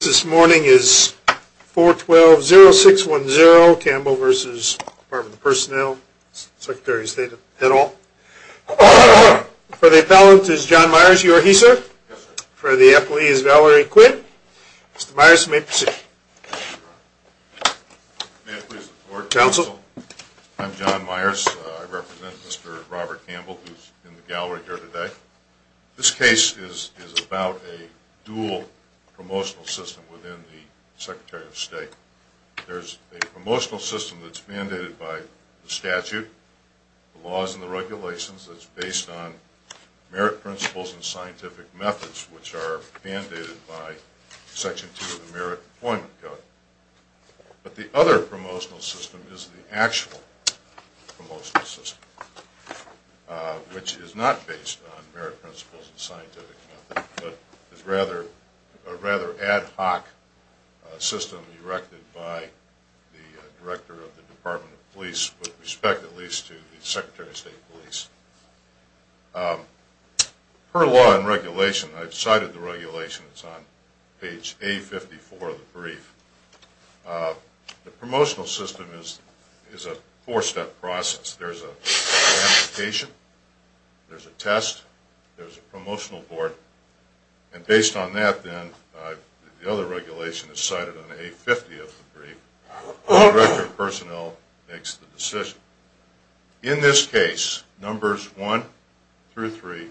This morning is 412-0610, Campbell v. Department of Personnel, Secretary of State et al. For the appellant is John Myers, you are he, sir? Yes, sir. For the appellee is Valerie Quinn. Mr. Myers, you may proceed. May it please the court, counsel. I'm John Myers. I represent Mr. Robert Campbell, who's in the gallery here today. This case is about a dual promotional system within the Secretary of State. There's a promotional system that's mandated by the statute, the laws and the regulations, that's based on merit principles and scientific methods, which are mandated by Section 2 of the Merit Deployment Code. But the other promotional system is the actual promotional system, which is not based on merit principles and scientific methods, but is a rather ad hoc system erected by the Director of the Department of Police, with respect at least to the Secretary of State Police. Per law and regulation, I've cited the regulations on page A54 of the brief, the promotional system is a four-step process. There's an application, there's a test, there's a promotional board, and based on that then, the other regulation is cited on A50 of the brief, and the Director of Personnel makes the decision. In this case, numbers 1 through 3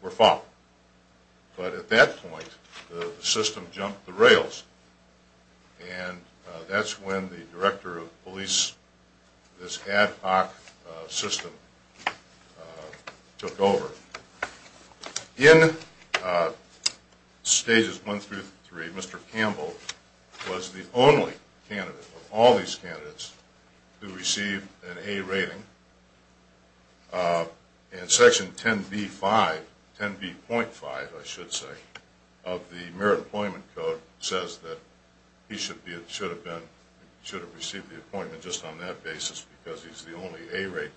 were fought. But at that point, the system jumped the rails, and that's when the Director of Police, this ad hoc system, took over. In Stages 1 through 3, Mr. Campbell was the only candidate of all these candidates who received an A rating, and Section 10B.5 of the Merit Deployment Code says that he should have received the appointment just on that basis because he's the only A rated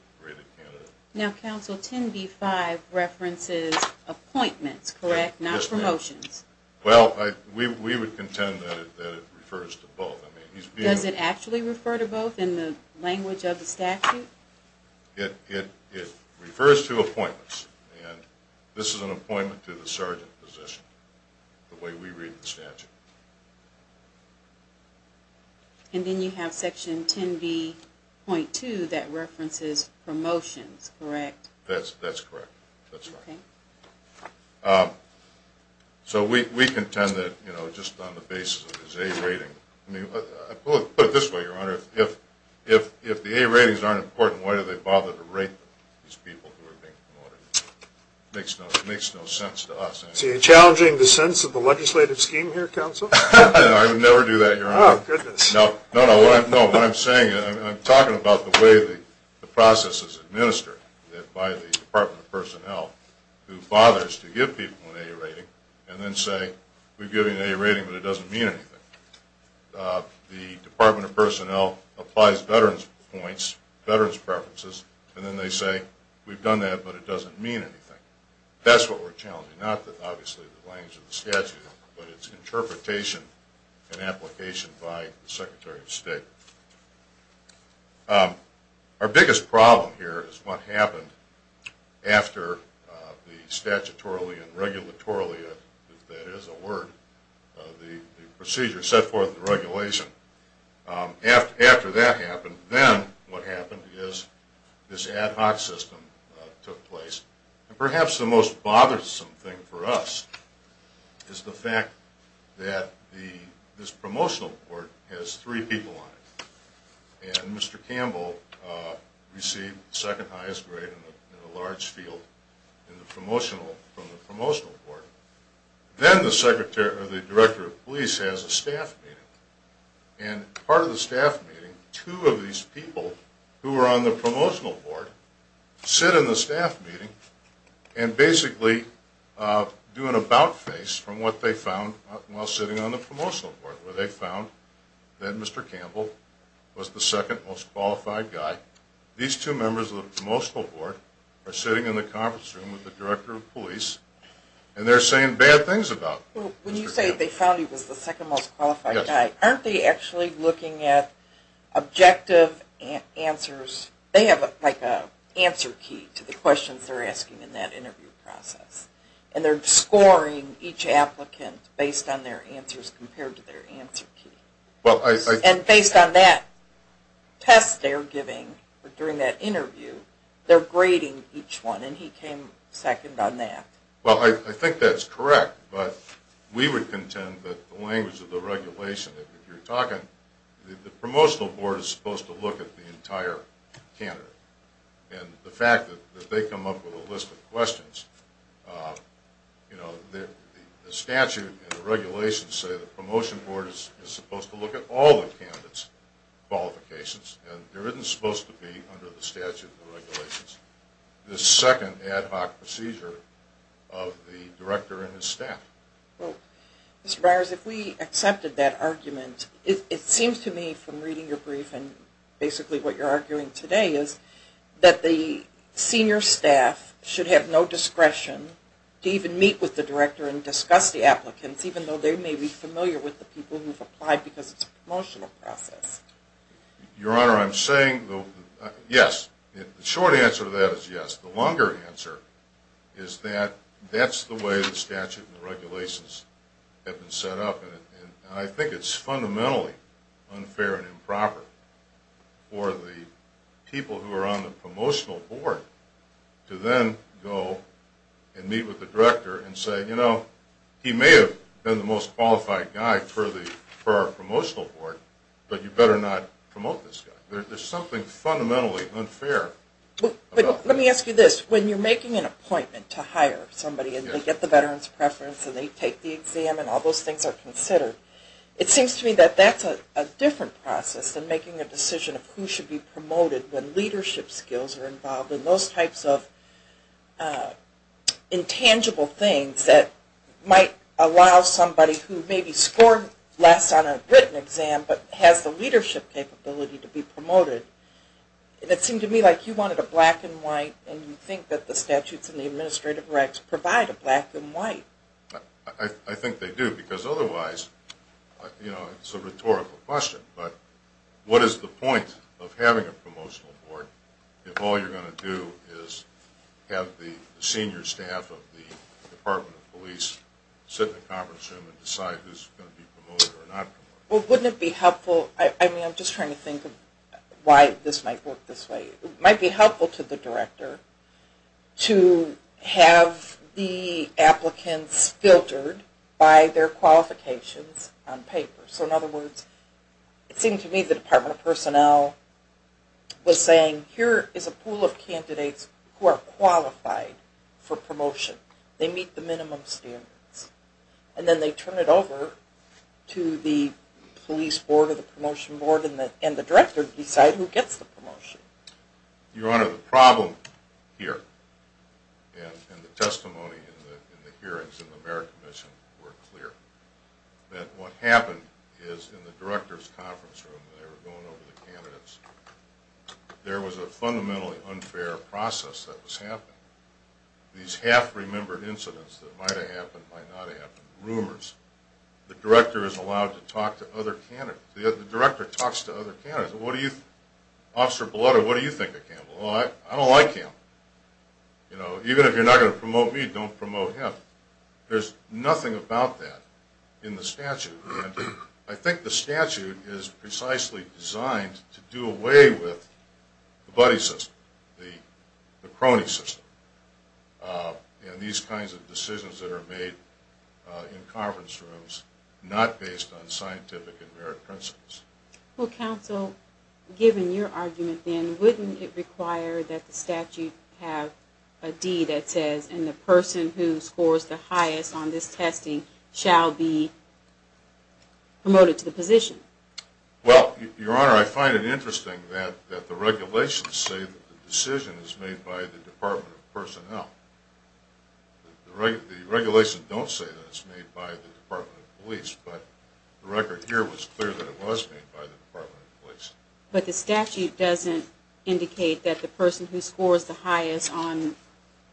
candidate. Now Council, 10B.5 references appointments, correct? Not promotions. Well, we would contend that it refers to both. Does it actually refer to both in the language of the statute? It refers to appointments, and this is an appointment to the sergeant position, the way we read the statute. And then you have Section 10B.2 that references promotions, correct? That's correct. So we contend that just on the basis of his A rating, put it this way, Your Honor, if the A ratings aren't important, why do they bother to rate these people who are being promoted? It makes no sense to us. So you're challenging the sense of the legislative scheme here, Council? No, I would never do that, Your Honor. Oh, goodness. No, no, no, what I'm saying is I'm talking about the way the process is administered by the Department of Personnel, who bothers to give people an A rating and then say, we've given you an A rating, but it doesn't mean anything. The Department of Personnel applies veterans' points, veterans' preferences, and then they say, we've done that, but it doesn't mean anything. That's what we're challenging, not obviously the language of the statute, but its interpretation and application by the Secretary of State. Our biggest problem here is what happened after the statutorily and regulatorily, if that is a word, the procedure set forth in the regulation. After that happened, then what happened is this ad hoc system took place. And perhaps the most bothersome thing for us is the fact that this promotional report has three people on it. And Mr. Campbell received second highest grade in a large field from the promotional report. Then the director of police has a staff meeting. And part of the staff meeting, two of these people who are on the promotional board sit in the staff meeting and basically do an about face from what they found while sitting on the promotional board, where they found that Mr. Campbell was the second most qualified guy. These two members of the promotional board are sitting in the conference room with the director of police, and they're saying bad things about Mr. Campbell. When you say they found he was the second most qualified guy, aren't they actually looking at objective answers? They have like an answer key to the questions they're asking in that interview process. And they're scoring each applicant based on their answers compared to their answer key. And based on that test they're giving during that interview, they're grading each one. And he came second on that. Well, I think that's correct. But we would contend that the language of the regulation, if you're talking, the promotional board is supposed to look at the entire candidate. And the fact that they come up with a list of questions, you know, the statute and the regulations say the promotion board is supposed to look at all the candidates' qualifications, and there isn't supposed to be under the statute and regulations the second ad hoc procedure of the director and his staff. Well, Mr. Byers, if we accepted that argument, it seems to me from reading your briefing, basically what you're arguing today is that the senior staff should have no discretion to even meet with the director and discuss the applicants, even though they may be familiar with the people who've applied because it's a promotional process. Your Honor, I'm saying yes. The short answer to that is yes. The longer answer is that that's the way the statute and the regulations have been set up. And I think it's fundamentally unfair and improper for the people who are on the promotional board to then go and meet with the director and say, you know, he may have been the most qualified guy for our promotional board, but you better not promote this guy. There's something fundamentally unfair about that. Let me ask you this. When you're making an appointment to hire somebody and they get the veteran's preference and they take the exam and all those things are considered, it seems to me that that's a different process than making a decision of who should be promoted when leadership skills are involved in those types of intangible things that might allow somebody who maybe scored less on a written exam but has the leadership capability to be promoted. It seemed to me like you wanted a black and white and you think that the statutes and the administrative rights provide a black and white. I think they do because otherwise, you know, it's a rhetorical question, but what is the point of having a promotional board if all you're going to do is have the senior staff of the Department of Police sit in the conference room and decide who's going to be promoted or not promoted? Well, wouldn't it be helpful? I mean, I'm just trying to think of why this might work this way. It might be helpful to the director to have the applicants filtered by their qualifications on paper. So in other words, it seemed to me the Department of Personnel was saying, here is a pool of candidates who are qualified for promotion. They meet the minimum standards. And then they turn it over to the police board or the promotion board and the director to decide who gets the promotion. Your Honor, the problem here and the testimony in the hearings in the merit commission were clear. That what happened is in the director's conference room, when they were going over the candidates, there was a fundamentally unfair process that was happening. These half-remembered incidents that might have happened, might not have happened. Rumors. The director is allowed to talk to other candidates. The director talks to other candidates. Officer Blutter, what do you think of Campbell? Well, I don't like Campbell. You know, even if you're not going to promote me, don't promote him. There's nothing about that in the statute. And I think the statute is precisely designed to do away with the buddy system, the crony system, and these kinds of decisions that are made in conference rooms, not based on scientific and merit principles. Well, counsel, given your argument then, wouldn't it require that the statute have a deed that says, and the person who scores the highest on this testing shall be promoted to the position? Well, Your Honor, I find it interesting that the regulations say that the decision is made by the Department of Personnel. The regulations don't say that it's made by the Department of Police, but the record here was clear that it was made by the Department of Police. But the statute doesn't indicate that the person who scores the highest on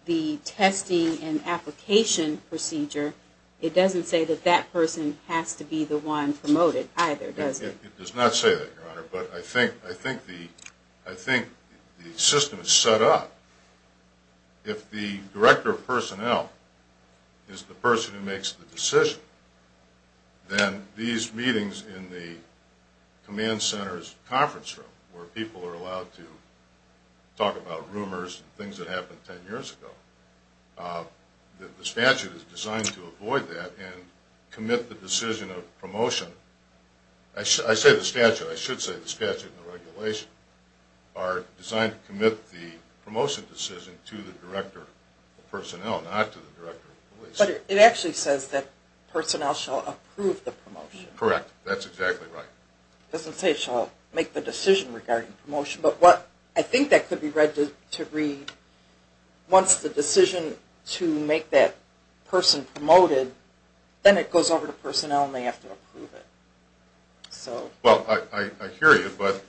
the testing and application procedure, it doesn't say that that person has to be the one promoted either, does it? It does not say that, Your Honor, but I think the system is set up. If the director of personnel is the person who makes the decision, then these meetings in the command center's conference room, where people are allowed to talk about rumors and things that happened ten years ago, the statute is designed to avoid that and commit the decision of promotion. I say the statute, I should say the statute and the regulation are designed to commit the promotion decision to the director of personnel, not to the director of police. But it actually says that personnel shall approve the promotion. Correct. That's exactly right. It doesn't say shall make the decision regarding promotion, but what I think that could be read to read, once the decision to make that person promoted, then it goes over to personnel and they have to approve it. Well, I hear you, but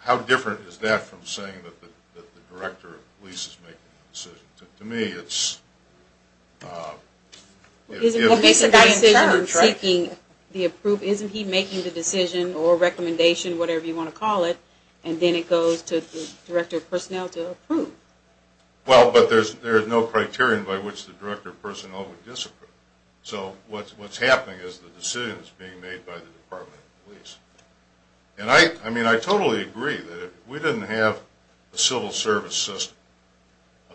how different is that from saying that the director of police is making the decision? To me, it's... Well, basically in terms, right? Isn't he making the decision or recommendation, whatever you want to call it, and then it goes to the director of personnel to approve? Well, but there's no criterion by which the director of personnel would disapprove. So what's happening is the decision is being made by the department of police. And I totally agree that if we didn't have a civil service system,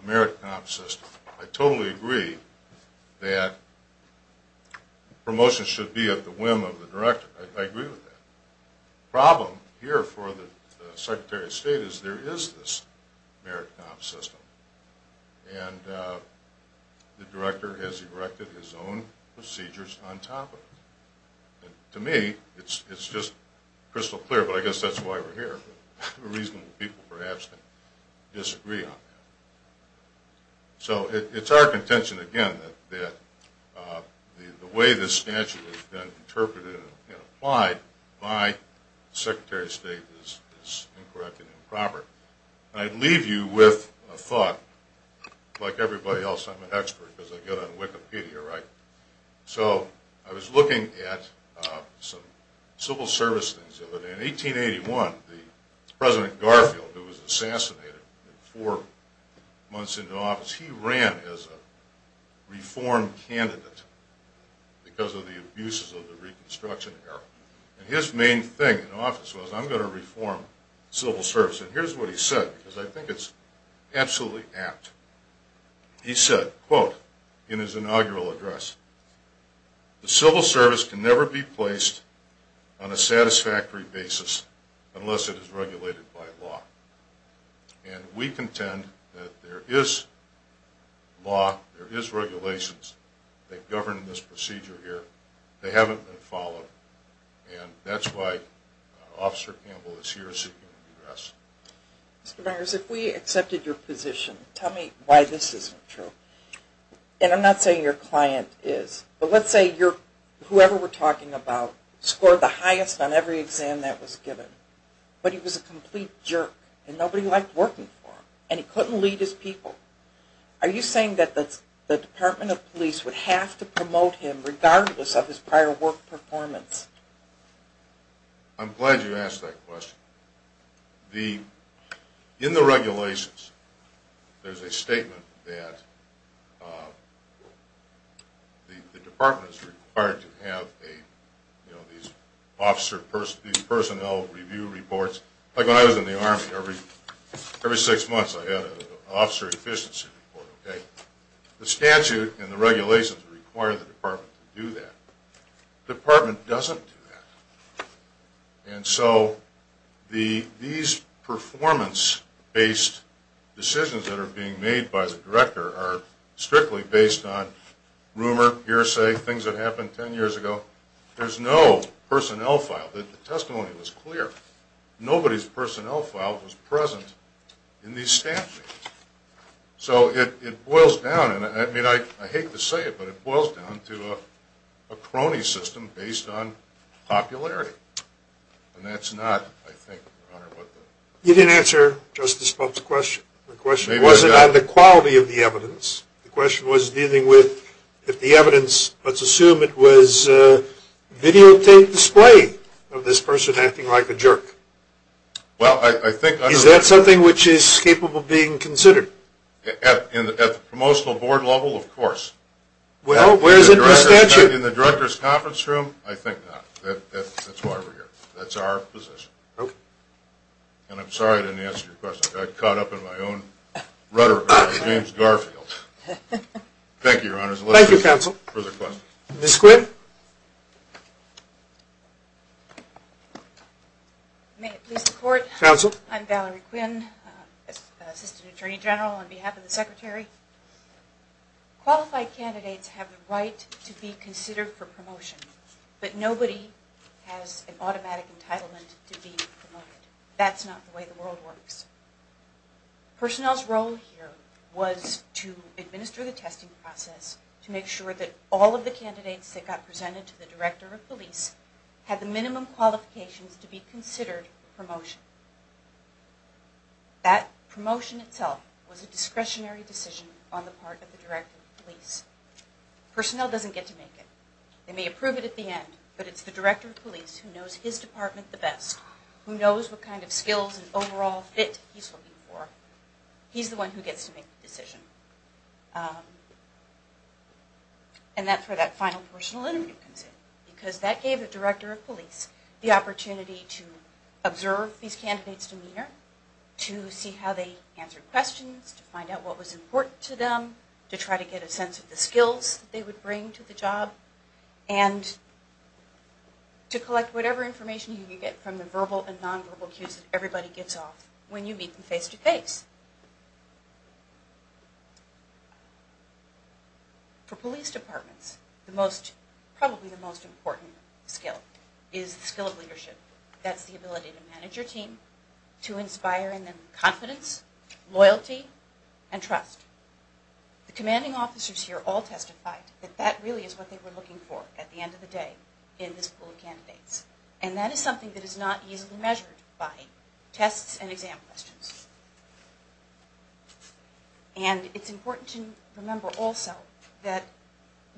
a merit comp system, I totally agree that promotion should be at the whim of the director. I agree with that. The problem here for the Secretary of State is there is this merit comp system. And the director has erected his own procedures on top of it. To me, it's just crystal clear, but I guess that's why we're here. There are reasonable people, perhaps, that disagree on that. So it's our contention, again, that the way this statute has been interpreted and applied by the Secretary of State is incorrect and improper. And I'd leave you with a thought. Like everybody else, I'm an expert because I get on Wikipedia, right? So I was looking at some civil service things the other day. In 1881, President Garfield, who was assassinated four months into office, he ran as a reform candidate because of the abuses of the Reconstruction era. And his main thing in office was, I'm going to reform civil service. And here's what he said, because I think it's absolutely apt. He said, quote, in his inaugural address, the civil service can never be placed on a satisfactory basis unless it is regulated by law. And we contend that there is law, there is regulations, that govern this procedure here. They haven't been followed. And that's why Officer Campbell is here seeking redress. Mr. Myers, if we accepted your position, tell me why this isn't true. And I'm not saying your client is. But let's say whoever we're talking about scored the highest on every exam that was given. But he was a complete jerk, and nobody liked working for him. And he couldn't lead his people. Are you saying that the Department of Police would have to promote him regardless of his prior work performance? I'm glad you asked that question. In the regulations, there's a statement that the department is required to have these personnel review reports. Like when I was in the Army, every six months I had an officer efficiency report. The statute and the regulations require the department to do that. The department doesn't do that. And so these performance-based decisions that are being made by the director are strictly based on rumor, hearsay, things that happened ten years ago. There's no personnel file. The testimony was clear. Nobody's personnel file was present in these statutes. So it boils down, and I hate to say it, but it boils down to a crony system based on popularity. And that's not, I think, Your Honor, what the... You didn't answer Justice Pulp's question. The question wasn't on the quality of the evidence. The question was dealing with if the evidence, let's assume it was videotaped display of this person acting like a jerk. Well, I think... Is that something which is capable of being considered? At the promotional board level, of course. Well, where is it in the statute? In the director's conference room? I think not. That's why we're here. That's our position. And I'm sorry I didn't answer your question. I got caught up in my own rhetoric by James Garfield. Thank you, Your Honor. Thank you, counsel. Further questions? Ms. Quinn. May it please the Court. Counsel. Hello. I'm Valerie Quinn, Assistant Attorney General on behalf of the Secretary. Qualified candidates have the right to be considered for promotion, but nobody has an automatic entitlement to be promoted. That's not the way the world works. Personnel's role here was to administer the testing process to make sure the candidates had the minimum qualifications to be considered for promotion. That promotion itself was a discretionary decision on the part of the Director of Police. Personnel doesn't get to make it. They may approve it at the end, but it's the Director of Police who knows his department the best, who knows what kind of skills and overall fit he's looking for. He's the one who gets to make the decision. And that's where that final personal interview comes in, because that gave the Director of Police the opportunity to observe these candidates' demeanor, to see how they answered questions, to find out what was important to them, to try to get a sense of the skills they would bring to the job, and to collect whatever information you can get from the verbal and nonverbal cues that everybody gets off when you meet them face-to-face. For police departments, probably the most important skill is the skill of leadership. That's the ability to manage your team, to inspire in them confidence, loyalty, and trust. The commanding officers here all testified that that really is what they were looking for at the end of the day in this pool of candidates. And that is something that is not easily measured by tests and exam questions. And it's important to remember also that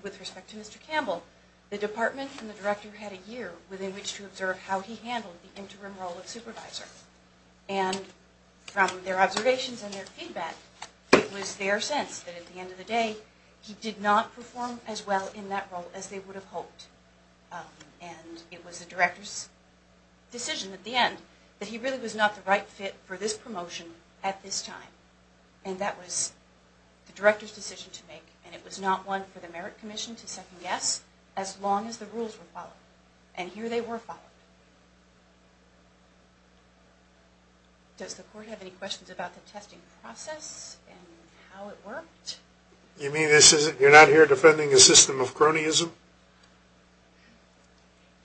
with respect to Mr. Campbell, the department and the Director had a year within which to observe how he handled the interim role of supervisor. And from their observations and their feedback, it was their sense that at the end of the day he did not perform as well in that role as they would have hoped. And it was the Director's decision at the end that he really was not the right fit for this promotion at this time. And that was the Director's decision to make. And it was not one for the Merit Commission to second guess as long as the rules were followed. And here they were followed. Does the Court have any questions about the testing process and how it worked? You mean you're not here defending a system of cronyism?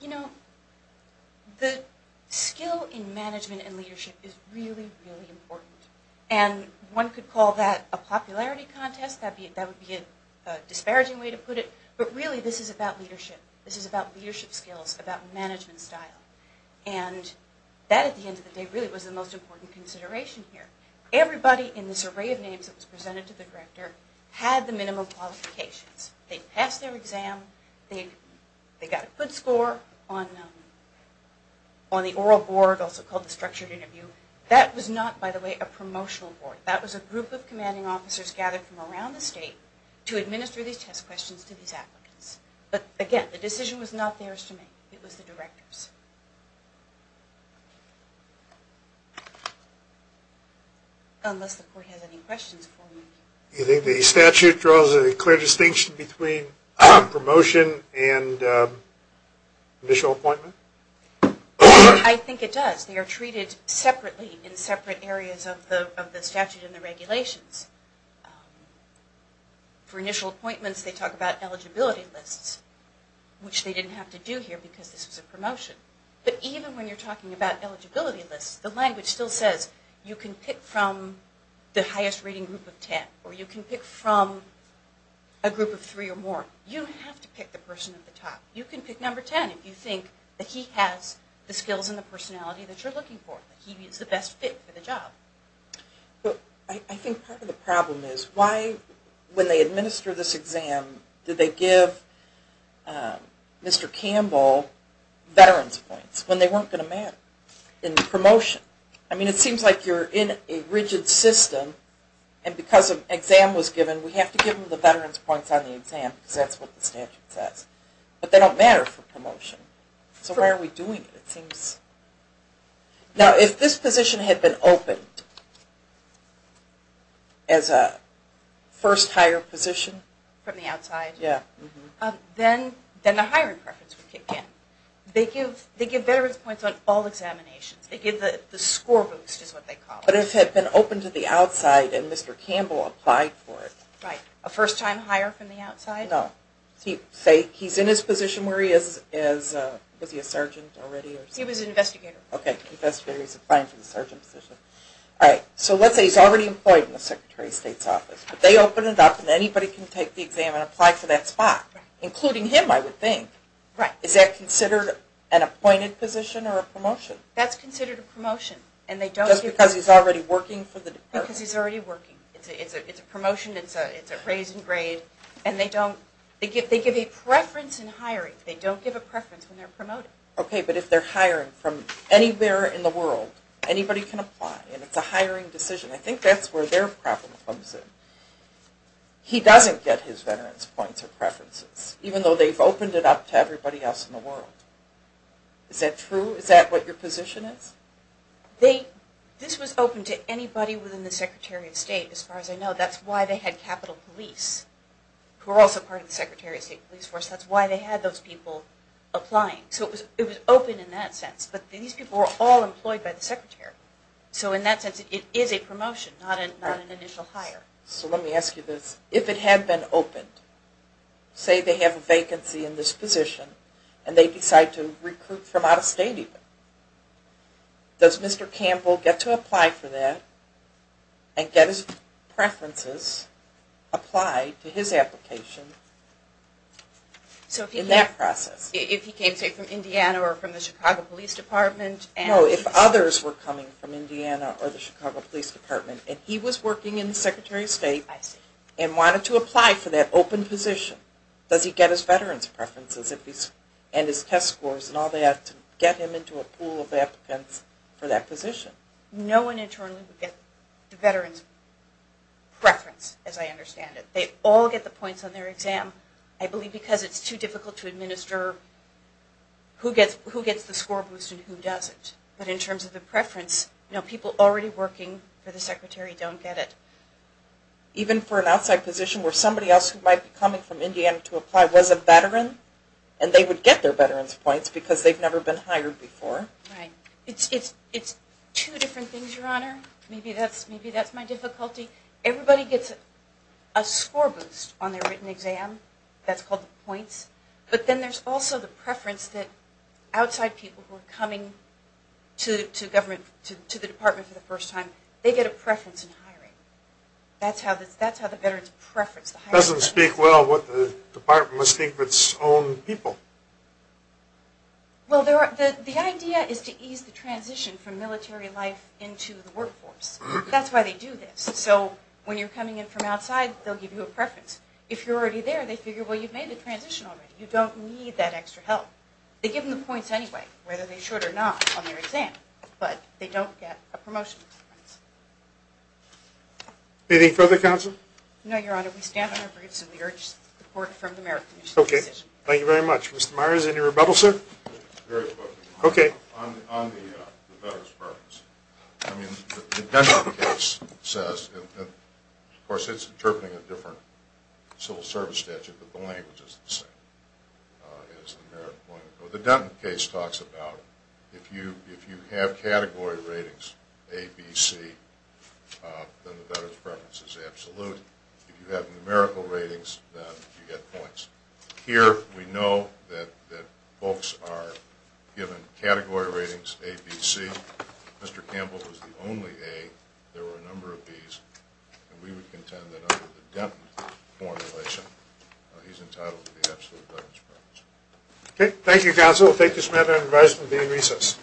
You know, the skill in management and leadership is really, really important. And one could call that a popularity contest. That would be a disparaging way to put it. But really this is about leadership. This is about leadership skills, about management style. And that at the end of the day really was the most important consideration here. Everybody in this array of names that was presented to the Director had the minimum qualifications. They passed their exam. They got a good score on the oral board, also called the structured interview. That was not, by the way, a promotional board. That was a group of commanding officers gathered from around the state to administer these test questions to these applicants. But, again, the decision was not theirs to make. It was the Director's. Unless the Court has any questions for me. Do you think the statute draws a clear distinction between promotion and initial appointment? I think it does. They are treated separately in separate areas of the statute and the regulations. For initial appointments they talk about eligibility lists, which they didn't have to do here because this was a promotion. But even when you're talking about eligibility lists, the language still says you can pick from the highest rating group of ten, or you can pick from a group of three or more. You don't have to pick the person at the top. You can pick number ten if you think that he has the skills and the personality that you're looking for, that he is the best fit for the job. I think part of the problem is why, when they administer this exam, did they give Mr. Campbell veterans points when they weren't going to promotion? It seems like you're in a rigid system and because an exam was given, we have to give them the veterans points on the exam because that's what the statute says. But they don't matter for promotion. So why are we doing it? Now if this position had been opened as a first hire position, then the hiring preference would kick in. They give veterans points on all examinations. They give the score boost is what they call it. But if it had been opened to the outside and Mr. Campbell applied for it. Right. A first time hire from the outside? No. He's in his position where he is. Was he a sergeant already? He was an investigator. Okay. Investigator. He's applying for the sergeant position. All right. So let's say he's already employed in the Secretary of State's office, but they open it up and anybody can take the exam and apply for that spot, including him I would think. Right. Is that considered an appointed position or a promotion? That's considered a promotion. Just because he's already working for the department? Because he's already working. It's a promotion. It's a raise in grade. And they give a preference in hiring. They don't give a preference when they're promoting. Okay. But if they're hiring from anywhere in the world, anybody can apply. And it's a hiring decision. I think that's where their problem comes in. He doesn't get his veterans points or preferences, even though they've opened it up to everybody else in the world. Is that true? Is that what your position is? This was open to anybody within the Secretary of State, as far as I know. That's why they had Capitol Police, who are also part of the Secretary of State Police Force. That's why they had those people applying. So it was open in that sense. But these people were all employed by the Secretary. So in that sense, it is a promotion, not an initial hire. So let me ask you this. If it had been opened, say they have a vacancy in this position and they decide to recruit from out of state even, does Mr. Campbell get to apply for that and get his preferences applied to his application in that process? So if he came, say, from Indiana or from the Chicago Police Department? No, if others were coming from Indiana or the Chicago Police Department and he was working in the Secretary of State and wanted to apply for that open position, does he get his veterans preferences and his test scores and all that to get him into a pool of applicants for that position? No one internally would get the veterans preference, as I understand it. They all get the points on their exam, I believe because it's too difficult to administer who gets the score boost and who doesn't. But in terms of the preference, people already working for the Secretary don't get it. Even for an outside position where somebody else who might be coming from Indiana to apply was a veteran and they would get their veterans points because they've never been hired before. Right. It's two different things, Your Honor. Maybe that's my difficulty. Everybody gets a score boost on their written exam. That's called the points. But then there's also the preference that outside people who are coming to the Department for the first time, they get a preference in hiring. That's how the veterans preference the hiring process. It doesn't speak well what the Department must think of its own people. Well, the idea is to ease the transition from military life into the workforce. That's why they do this. So when you're coming in from outside, they'll give you a preference. If you're already there, they figure, well, you've made the transition already. You don't need that extra help. They give them the points anyway, whether they should or not, on their exam. But they don't get a promotion. Anything further, Counsel? No, Your Honor. We stand on our roots and we urge support from the Merit Commission. Okay. Thank you very much. Mr. Myers, any rebuttals, sir? Very quickly. Okay. On the veterans preference, I mean, the Denton case says, and of course it's interpreting a different civil service statute, but the language is the same. The Denton case talks about if you have category ratings, A, B, C, then the veterans preference is absolute. If you have numerical ratings, then you get points. Here we know that folks are given category ratings, A, B, C. Mr. Campbell was the only A. There were a number of Bs. We would contend that under the Denton formulation, he's entitled to the absolute veterans preference. Okay. Thank you, Counsel. We'll take this matter and advise it will be in recess.